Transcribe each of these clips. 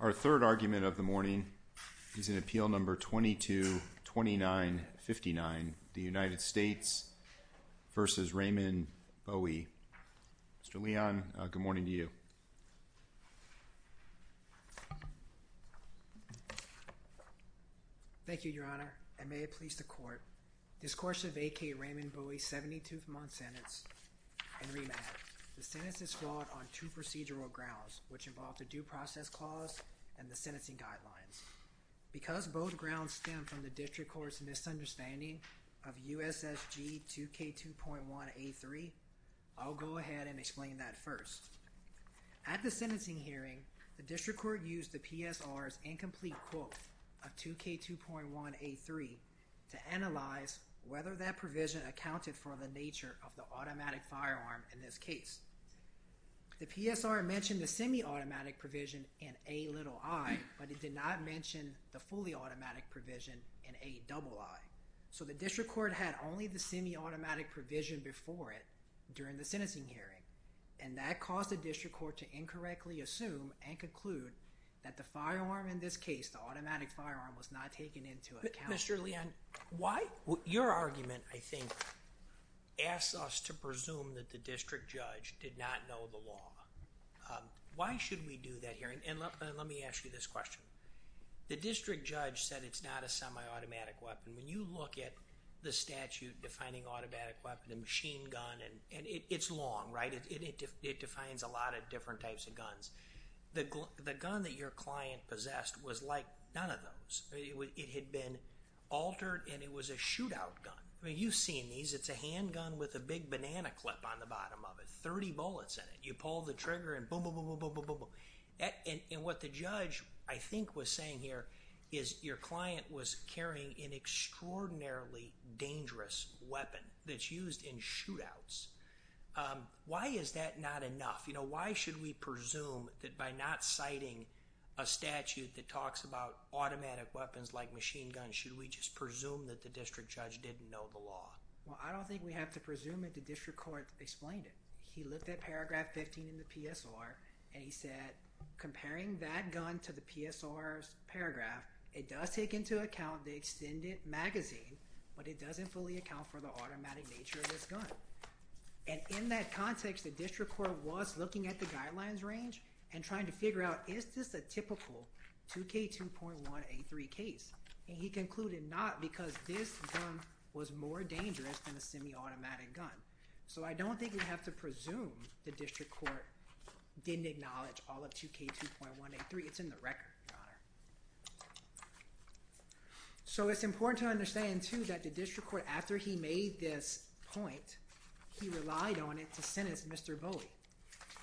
Our third argument of the morning is in Appeal No. 22-2959, the United States v. Raymond Bowie. Mr. Leon, good morning to you. Thank you, Your Honor, and may it please the Court. Discourse of A.K. Raymond Bowie's 72-month sentence. In remand, the sentence is flawed on two procedural grounds, which involve the due process clause and the sentencing guidelines. Because both grounds stem from the District Court's misunderstanding of USSG 2K2.1A3, I'll go ahead and explain that first. At the sentencing hearing, the District Court used the PSR's incomplete quote of 2K2.1A3 to analyze whether that provision accounted for the nature of the automatic firearm in this case. The PSR mentioned the semi-automatic provision in A little i, but it did not mention the fully automatic provision in A double i. So the District Court had only the semi-automatic provision before it during the sentencing hearing, and that caused the District Court to incorrectly assume and conclude that the firearm in this case, the automatic firearm, was not taken into account. Mr. Leon, your argument, I think, asks us to presume that the district judge did not know the law. Why should we do that here? And let me ask you this question. The district judge said it's not a semi-automatic weapon. When you look at the statute defining automatic weapon and machine gun, and it's long, right? It defines a lot of different types of guns. The gun that your client possessed was like none of those. It had been altered, and it was a shootout gun. You've seen these. It's a handgun with a big banana clip on the bottom of it, 30 bullets in it. You pull the trigger and boom, boom, boom, boom, boom, boom, boom, boom. And what the judge, I think, was saying here is your client was carrying an extraordinarily dangerous weapon that's used in shootouts. Why is that not enough? Why should we presume that by not citing a statute that talks about automatic weapons like machine guns, should we just presume that the district judge didn't know the law? Well, I don't think we have to presume it. The district court explained it. He looked at paragraph 15 in the PSR, and he said, comparing that gun to the PSR's paragraph, it does take into account the extended magazine, but it doesn't fully account for the automatic nature of this gun. And in that context, the district court was looking at the guidelines range and trying to figure out, is this a typical 2K2.183 case? And he concluded not because this gun was more dangerous than a semi-automatic gun. So I don't think we have to presume the district court didn't acknowledge all of 2K2.183. It's in the record, Your Honor. So it's important to understand, too, that the district court, after he made this point, he relied on it to sentence Mr. Bowie.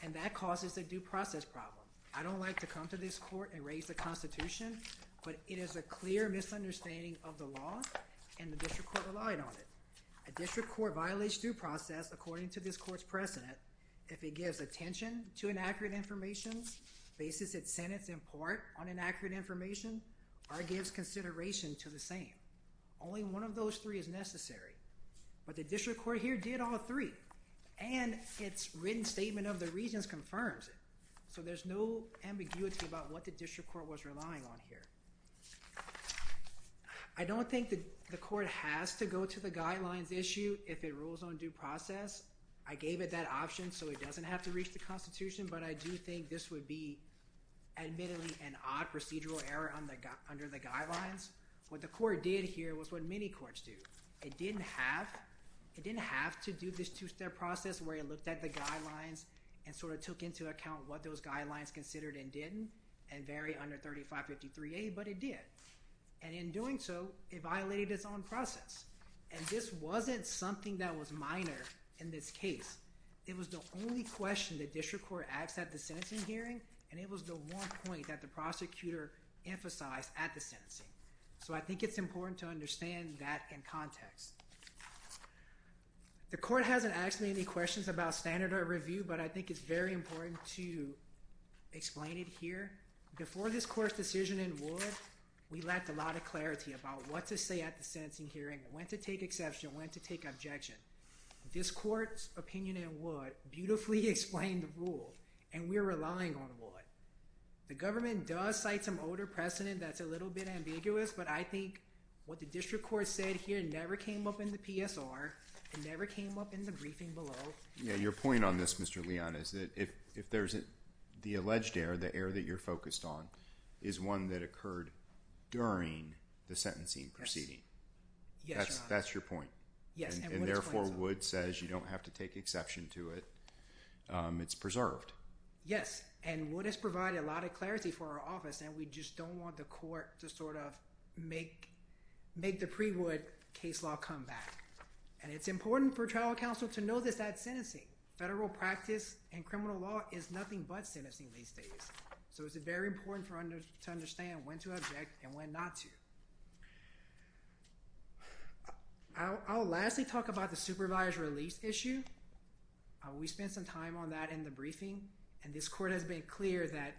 And that causes a due process problem. I don't like to come to this court and raise the Constitution, but it is a clear misunderstanding of the law, and the district court relied on it. A district court violates due process according to this court's precedent if it gives attention to inaccurate information, bases its sentence in part on inaccurate information, or gives consideration to the same. Only one of those three is necessary. But the district court here did all three, and its written statement of the reasons confirms it. So there's no ambiguity about what the district court was relying on here. I don't think the court has to go to the guidelines issue if it rules on due process. I gave it that option so it doesn't have to reach the Constitution, but I do think this would be admittedly an odd procedural error under the guidelines. What the court did here was what many courts do. It didn't have to do this two-step process where it looked at the guidelines and sort of took into account what those guidelines considered and didn't, and vary under 3553A, but it did. And in doing so, it violated its own process. And this wasn't something that was minor in this case. It was the only question the district court asked at the sentencing hearing, and it was the one point that the prosecutor emphasized at the sentencing. So I think it's important to understand that in context. The court hasn't asked me any questions about standard of review, but I think it's very important to explain it here. Before this court's decision in Wood, we lacked a lot of clarity about what to say at the sentencing hearing, when to take exception, when to take objection. This court's opinion in Wood beautifully explained the rule, and we're relying on Wood. The government does cite some older precedent that's a little bit ambiguous, but I think what the district court said here never came up in the PSR. It never came up in the briefing below. Yeah, your point on this, Mr. Leon, is that if there's the alleged error, the error that you're focused on, is one that occurred during the sentencing proceeding. Yes. That's your point. Yes. And therefore Wood says you don't have to take exception to it. It's preserved. Yes, and Wood has provided a lot of clarity for our office, and we just don't want the court to sort of make the pre-Wood case law come back. And it's important for trial counsel to know this at sentencing. Federal practice in criminal law is nothing but sentencing these days. So it's very important to understand when to object and when not to. I'll lastly talk about the supervised release issue. We spent some time on that in the briefing, and this court has been clear that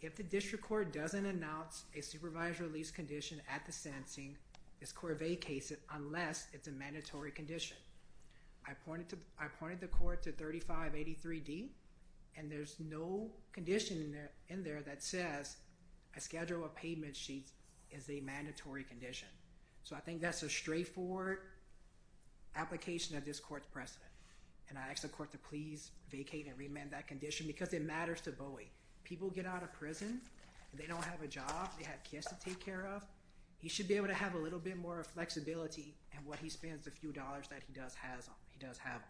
if the district court doesn't announce a supervised release condition at the sentencing, this court vacates it unless it's a mandatory condition. I pointed the court to 3583D, and there's no condition in there that says a schedule of payment sheets is a mandatory condition. So I think that's a straightforward application of this court's precedent. And I ask the court to please vacate and remand that condition because it matters to Bowie. People get out of prison, they don't have a job, they have kids to take care of. He should be able to have a little bit more flexibility in what he spends the few dollars that he does have on.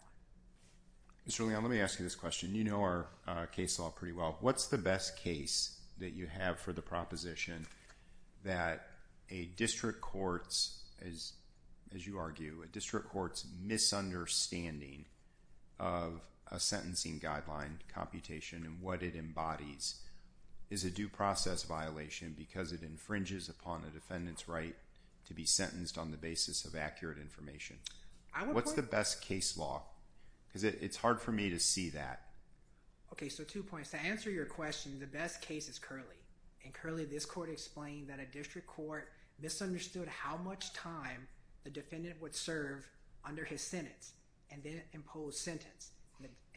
Mr. Leon, let me ask you this question. You know our case law pretty well. What's the best case that you have for the proposition that a district court's, as you argue, a district court's misunderstanding of a sentencing guideline computation and what it embodies is a due process violation because it infringes upon the defendant's right to be sentenced on the basis of accurate information? What's the best case law? Because it's hard for me to see that. Okay, so two points. To answer your question, the best case is Curley. In Curley, this court explained that a district court misunderstood how much time the defendant would serve under his sentence and then impose sentence.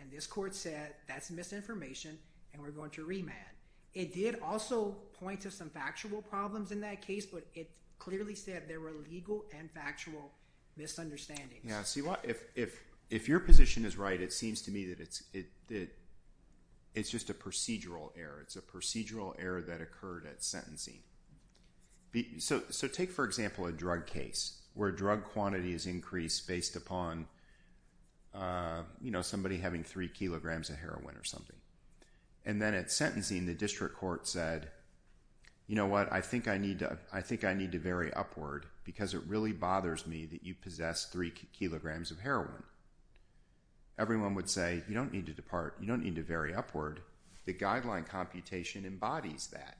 And this court said that's misinformation and we're going to remand. It did also point to some factual problems in that case, but it clearly said there were legal and factual misunderstandings. Yeah, see, if your position is right, it seems to me that it's just a procedural error. It's a procedural error that occurred at sentencing. So take, for example, a drug case where drug quantity is increased based upon somebody having three kilograms of heroin or something. And then at sentencing, the district court said, you know what, I think I need to vary upward because it really bothers me that you possess three kilograms of heroin. Everyone would say, you don't need to vary upward. The guideline computation embodies that.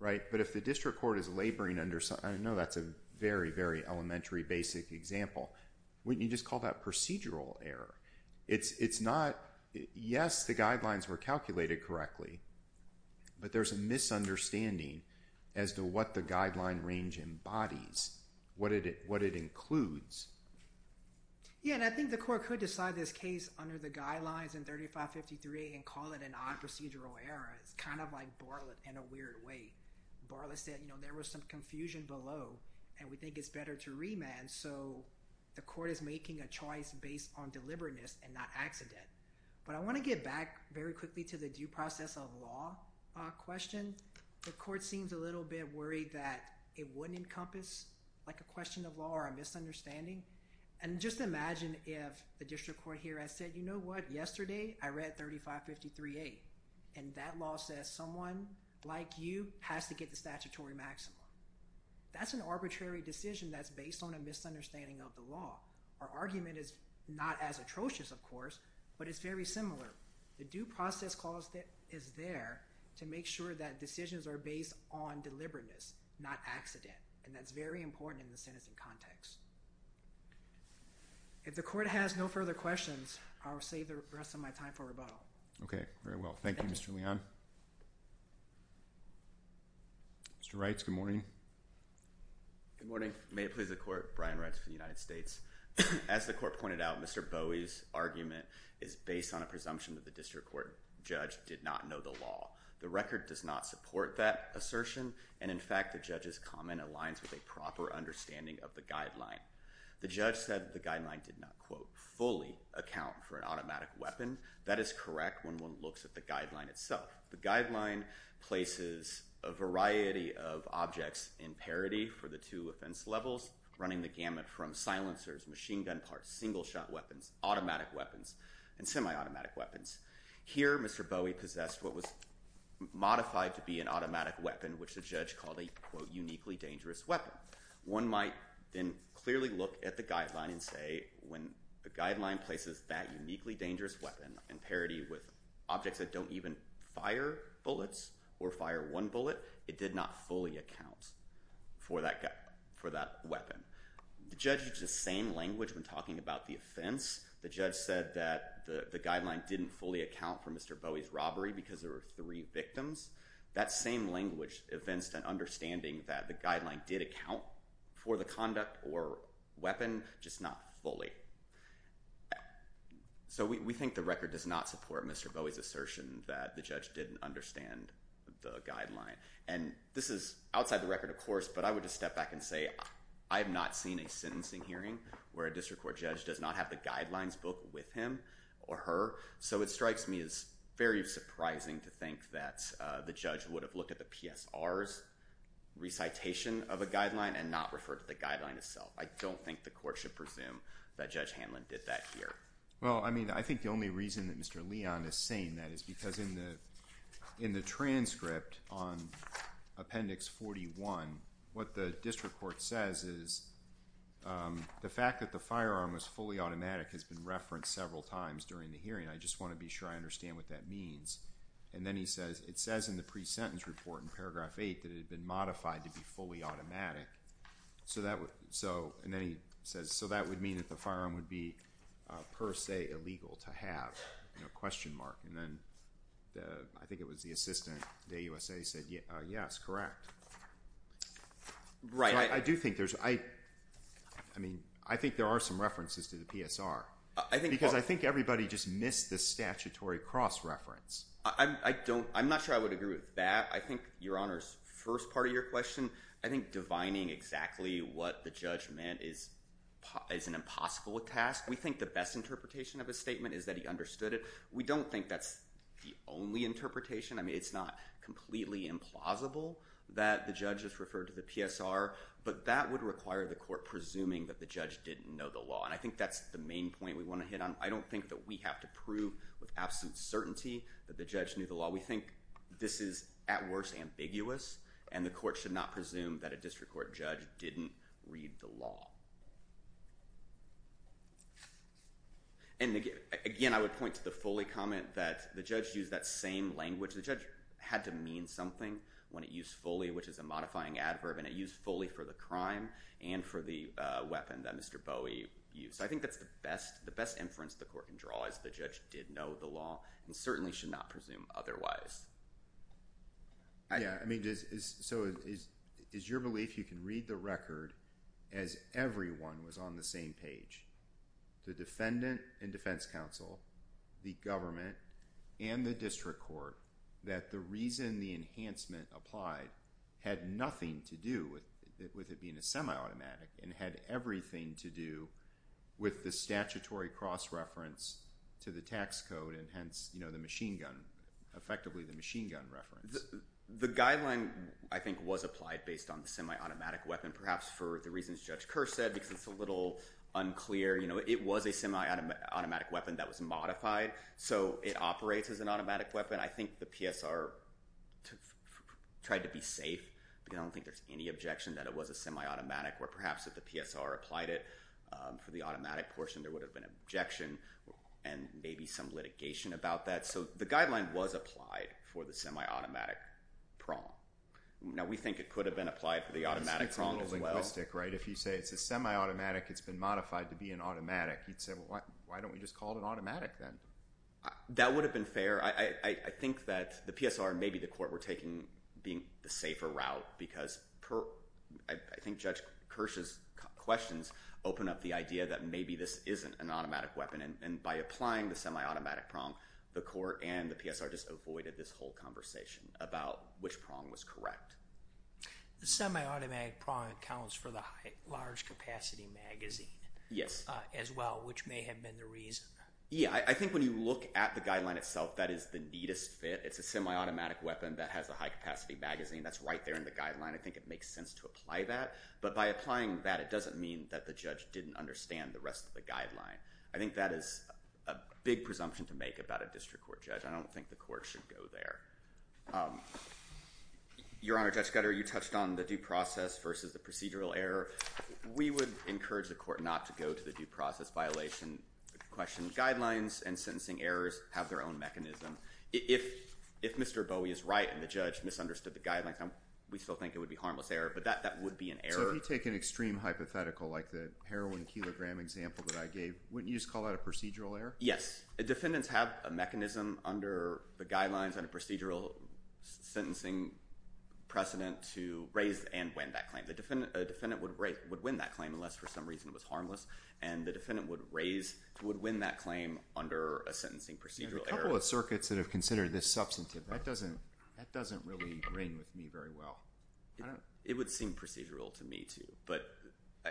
But if the district court is laboring under, I know that's a very, very elementary, basic example, wouldn't you just call that procedural error? Yes, the guidelines were calculated correctly, but there's a misunderstanding as to what the guideline range embodies, what it includes. Yeah, and I think the court could decide this case under the guidelines in 3553 and call it an odd procedural error. It's kind of like Bartlett in a weird way. Bartlett said, you know, there was some confusion below and we think it's better to remand. So the court is making a choice based on deliberateness and not accident. But I want to get back very quickly to the due process of law question. The court seems a little bit worried that it wouldn't encompass a question of law or a misunderstanding. And just imagine if the district court here had said, you know what, yesterday I read 3553A, and that law says someone like you has to get the statutory maximum. That's an arbitrary decision that's based on a misunderstanding of the law. Our argument is not as atrocious, of course, but it's very similar. The due process clause is there to make sure that decisions are based on deliberateness, not accident, and that's very important in the citizen context. If the court has no further questions, I'll save the rest of my time for rebuttal. Okay, very well. Thank you, Mr. Leon. Mr. Reitz, good morning. Good morning. May it please the court, Brian Reitz for the United States. As the court pointed out, Mr. Bowie's argument is based on a presumption that the district court judge did not know the law. The record does not support that assertion, and in fact the judge's comment aligns with a proper understanding of the guideline. The judge said the guideline did not, quote, fully account for an automatic weapon. That is correct when one looks at the guideline itself. The guideline places a variety of objects in parity for the two offense levels, running the gamut from silencers, machine gun parts, single shot weapons, automatic weapons, and semi-automatic weapons. Here, Mr. Bowie possessed what was modified to be an automatic weapon, which the judge called a, quote, uniquely dangerous weapon. Now, one might then clearly look at the guideline and say when the guideline places that uniquely dangerous weapon in parity with objects that don't even fire bullets or fire one bullet, it did not fully account for that weapon. The judge used the same language when talking about the offense. The judge said that the guideline didn't fully account for Mr. Bowie's robbery because there were three victims. That same language evinced an understanding that the guideline did account for the conduct or weapon, just not fully. So we think the record does not support Mr. Bowie's assertion that the judge didn't understand the guideline. And this is outside the record, of course, but I would just step back and say I have not seen a sentencing hearing where a district court judge does not have the guidelines book with him or her. So it strikes me as very surprising to think that the judge would have looked at the PSR's recitation of a guideline and not referred to the guideline itself. I don't think the court should presume that Judge Hanlon did that here. Well, I mean, I think the only reason that Mr. Leon is saying that is because in the transcript on Appendix 41, what the district court says is the fact that the firearm was fully automatic has been referenced several times during the hearing. I just want to be sure I understand what that means. And then he says it says in the pre-sentence report in Paragraph 8 that it had been modified to be fully automatic. And then he says, so that would mean that the firearm would be per se illegal to have? And then I think it was the assistant at AUSA who said, yes, correct. So I do think there's, I mean, I think there are some references to the PSR. Because I think everybody just missed the statutory cross-reference. I don't, I'm not sure I would agree with that. I think Your Honor's first part of your question, I think divining exactly what the judge meant is an impossible task. We think the best interpretation of his statement is that he understood it. We don't think that's the only interpretation. I mean, it's not completely implausible that the judge has referred to the PSR, but that would require the court presuming that the judge didn't know the law. And I think that's the main point we want to hit on. I don't think that we have to prove with absolute certainty that the judge knew the law. We think this is at worst ambiguous, and the court should not presume that a district court judge didn't read the law. And again, I would point to the fully comment that the judge used that same language. The judge had to mean something when it used fully, which is a modifying adverb, and it used fully for the crime and for the weapon that Mr. Bowie used. So I think that's the best inference the court can draw is the judge did know the law and certainly should not presume otherwise. Yeah, I mean, so is your belief you can read the record as everyone was on the same page? The defendant and defense counsel, the government, and the district court, that the reason the enhancement applied had nothing to do with it being a semi-automatic and had everything to do with the statutory cross-reference to the tax code and hence, you know, the machine gun. Effectively, the machine gun reference. The guideline, I think, was applied based on the semi-automatic weapon, perhaps for the reasons Judge Kerr said, because it's a little unclear. You know, it was a semi-automatic weapon that was modified, so it operates as an automatic weapon. I think the PSR tried to be safe, but I don't think there's any objection that it was a semi-automatic, or perhaps if the PSR applied it for the automatic portion, there would have been objection and maybe some litigation about that. So the guideline was applied for the semi-automatic prong. Now, we think it could have been applied for the automatic prong as well. It's a little linguistic, right? If you say it's a semi-automatic, it's been modified to be an automatic, you'd say, well, why don't we just call it automatic then? That would have been fair. I think that the PSR and maybe the court were taking the safer route, because I think Judge Kerr's questions open up the idea that maybe this isn't an automatic weapon, and by applying the semi-automatic prong, the court and the PSR just avoided this whole conversation about which prong was correct. The semi-automatic prong accounts for the large-capacity magazine as well, which may have been the reason. Yeah, I think when you look at the guideline itself, that is the neatest fit. It's a semi-automatic weapon that has a high-capacity magazine. That's right there in the guideline. I think it makes sense to apply that, but by applying that, it doesn't mean that the judge didn't understand the rest of the guideline. I think that is a big presumption to make about a district court judge. I don't think the court should go there. Your Honor, Judge Scudder, you touched on the due process versus the procedural error. We would encourage the court not to go to the due process violation question. Guidelines and sentencing errors have their own mechanism. If Mr. Bowie is right and the judge misunderstood the guidelines, we still think it would be a harmless error, but that would be an error. If you take an extreme hypothetical like the heroin kilogram example that I gave, wouldn't you just call that a procedural error? Yes. Defendants have a mechanism under the guidelines and a procedural sentencing precedent to raise and win that claim. A defendant would win that claim unless for some reason it was harmless, and the defendant would win that claim under a sentencing procedural error. A couple of circuits that have considered this substantive, that doesn't really ring with me very well. It would seem procedural to me, too. I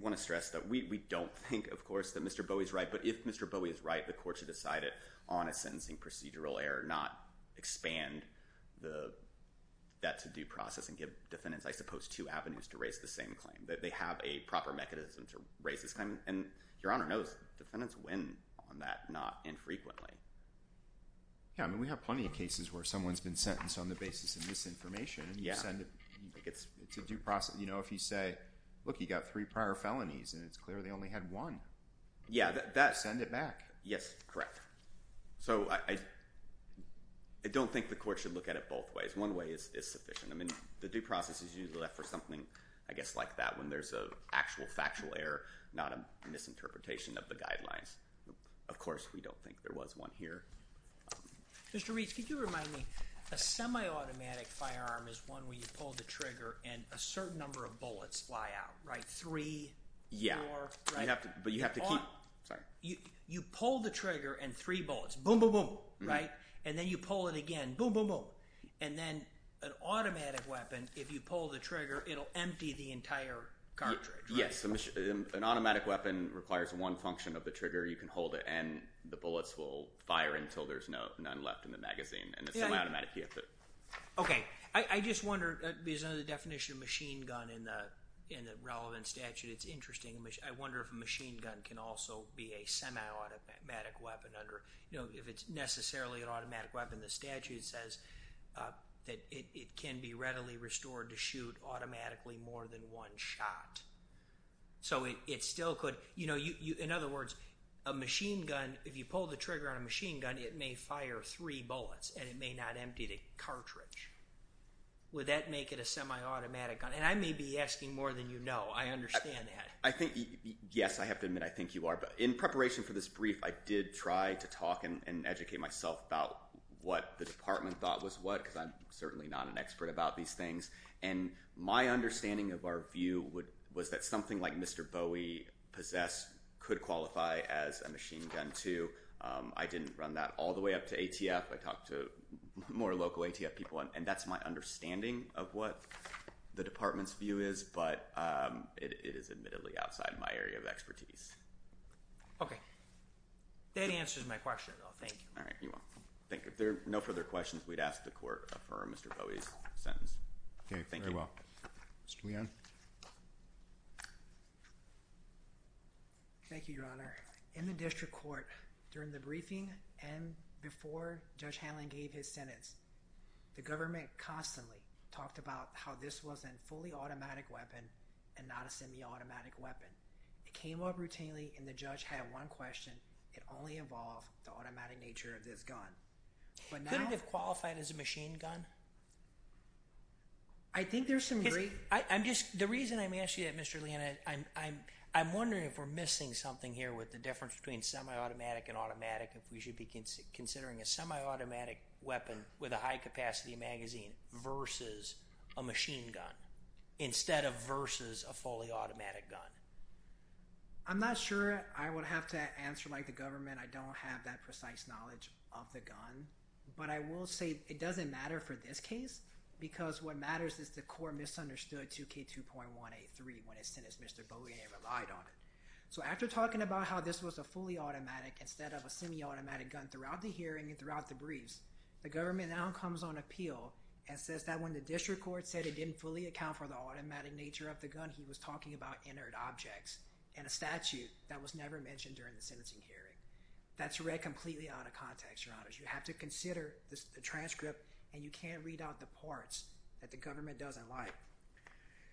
want to stress that we don't think, of course, that Mr. Bowie is right, but if Mr. Bowie is right, the court should decide it on a sentencing procedural error, not expand that to-do process and give defendants, I suppose, two avenues to raise the same claim. They have a proper mechanism to raise this claim, and Your Honor knows defendants win on that, not infrequently. We have plenty of cases where someone's been sentenced on the basis of misinformation. It's a due process. If you say, look, you got three prior felonies, and it's clear they only had one, send it back. Yes, correct. I don't think the court should look at it both ways. One way is sufficient. The due process is usually left for something like that when there's an actual factual error, not a misinterpretation of the guidelines. Of course, we don't think there was one here. Mr. Reitz, could you remind me, a semi-automatic firearm is one where you pull the trigger and a certain number of bullets fly out, right? Three, four, right? Yeah, but you have to keep – sorry. You pull the trigger and three bullets, boom, boom, boom, right? And then you pull it again, boom, boom, boom, and then an automatic weapon, if you pull the trigger, it'll empty the entire cartridge, right? Right. An automatic weapon requires one function of the trigger. You can hold it, and the bullets will fire until there's none left in the magazine, and it's a semi-automatic. Okay. I just wonder, because under the definition of machine gun in the relevant statute, it's interesting. I wonder if a machine gun can also be a semi-automatic weapon under – if it's necessarily an automatic weapon. The statute says that it can be readily restored to shoot automatically more than one shot. So it still could – in other words, a machine gun, if you pull the trigger on a machine gun, it may fire three bullets, and it may not empty the cartridge. Would that make it a semi-automatic gun? And I may be asking more than you know. I understand that. I think – yes, I have to admit, I think you are. But in preparation for this brief, I did try to talk and educate myself about what the department thought was what, because I'm certainly not an expert about these things. And my understanding of our view was that something like Mr. Bowie possessed could qualify as a machine gun too. I didn't run that all the way up to ATF. I talked to more local ATF people, and that's my understanding of what the department's view is, but it is admittedly outside my area of expertise. Okay. That answers my question, though. Thank you. All right. You're welcome. Thank you. If there are no further questions, we'd ask the Court to affirm Mr. Bowie's sentence. Okay. Very well. Thank you. Mr. Leone. Thank you, Your Honor. In the district court, during the briefing and before Judge Hanlon gave his sentence, the government constantly talked about how this was a fully automatic weapon and not a semi-automatic weapon. It came up routinely, and the judge had one question. It only involved the automatic nature of this gun. Couldn't it have qualified as a machine gun? I think there's some great – The reason I'm asking you that, Mr. Leone, I'm wondering if we're missing something here with the difference between semi-automatic and automatic, if we should be considering a semi-automatic weapon with a high capacity magazine versus a machine gun instead of versus a fully automatic gun. I'm not sure I would have to answer like the government. I don't have that precise knowledge of the gun. But I will say it doesn't matter for this case because what matters is the court misunderstood 2K2.183 when it sentenced Mr. Bowie and it relied on it. So after talking about how this was a fully automatic instead of a semi-automatic gun throughout the hearing and throughout the briefs, the government now comes on appeal and says that when the district court said it didn't fully account for the automatic nature of the gun, he was talking about inert objects and a statute that was never mentioned during the sentencing hearing. That's read completely out of context, Your Honor. You have to consider the transcript and you can't read out the parts that the government doesn't like.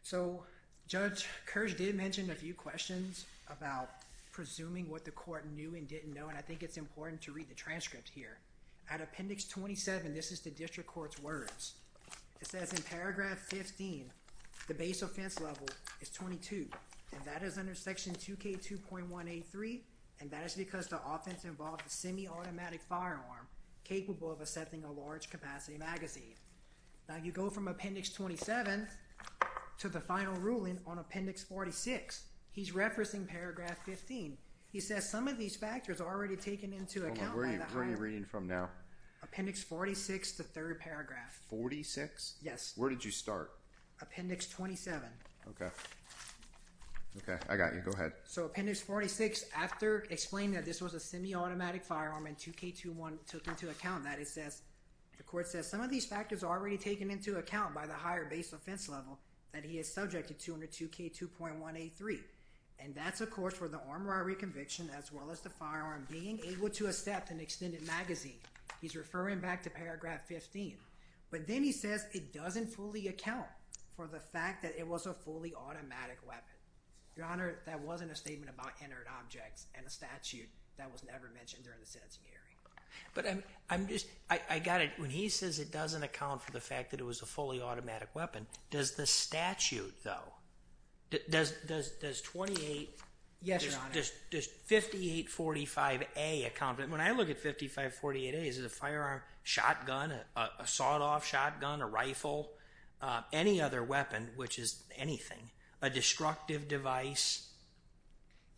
So Judge Kirsch did mention a few questions about presuming what the court knew and didn't know, and I think it's important to read the transcript here. At Appendix 27, this is the district court's words. It says in paragraph 15, the base offense level is 22, and that is under Section 2K2.183, and that is because the offense involved a semi-automatic firearm capable of assessing a large capacity magazine. Now you go from Appendix 27 to the final ruling on Appendix 46. He's referencing paragraph 15. He says some of these factors are already taken into account. Where are you reading from now? Appendix 46, the third paragraph. 46? Yes. Where did you start? Appendix 27. Okay. Okay, I got you. Go ahead. So Appendix 46, after explaining that this was a semi-automatic firearm and 2K21 took into account that, it says, the court says some of these factors are already taken into account by the higher base offense level that he is subject to under 2K2.183, and that's, of course, for the armed robbery conviction as well as the firearm being able to accept an extended magazine. He's referring back to paragraph 15, but then he says it doesn't fully account for the fact that it was a fully automatic weapon. Your Honor, that wasn't a statement about inert objects and a statute that was never mentioned during the sentencing hearing. But I'm just, I got it. When he says it doesn't account for the fact that it was a fully automatic weapon, does the statute, though, does 28? Yes, Your Honor. Does 5845A account for it? When I look at 5548A, is it a firearm, shotgun, a sawed-off shotgun, a rifle, any other weapon, which is anything, a destructive device?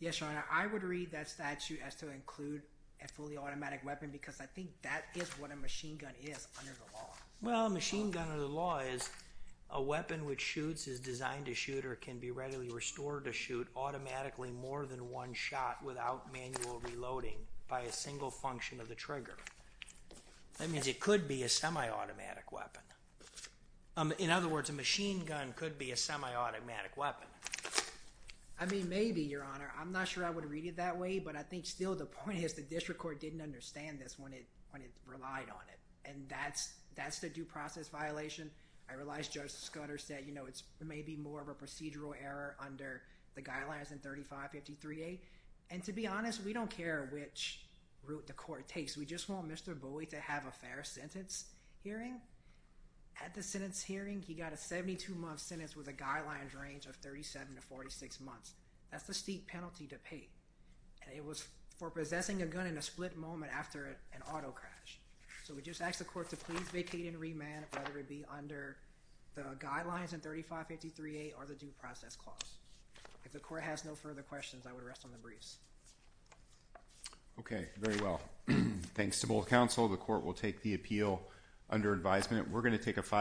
Yes, Your Honor. I would read that statute as to include a fully automatic weapon because I think that is what a machine gun is under the law. Well, a machine gun under the law is a weapon which shoots, is designed to shoot, or can be readily restored to shoot automatically more than one shot without manual reloading by a single function of the trigger. That means it could be a semi-automatic weapon. In other words, a machine gun could be a semi-automatic weapon. I mean, maybe, Your Honor. I'm not sure I would read it that way, but I think still the point is the district court didn't understand this when it relied on it. And that's the due process violation. I realize Judge Scudder said, you know, it's maybe more of a procedural error under the guidelines in 3553A. And to be honest, we don't care which route the court takes. We just want Mr. Bowie to have a fair sentence hearing. At the sentence hearing, he got a 72-month sentence with a guidelines range of 37 to 46 months. That's a steep penalty to pay. And it was for possessing a gun in a split moment after an auto crash. So we just ask the court to please vacate and remand whether it be under the guidelines in 3553A or the due process clause. If the court has no further questions, I would rest on the briefs. Okay. Very well. Thanks to both counsel. The court will take the appeal under advisement.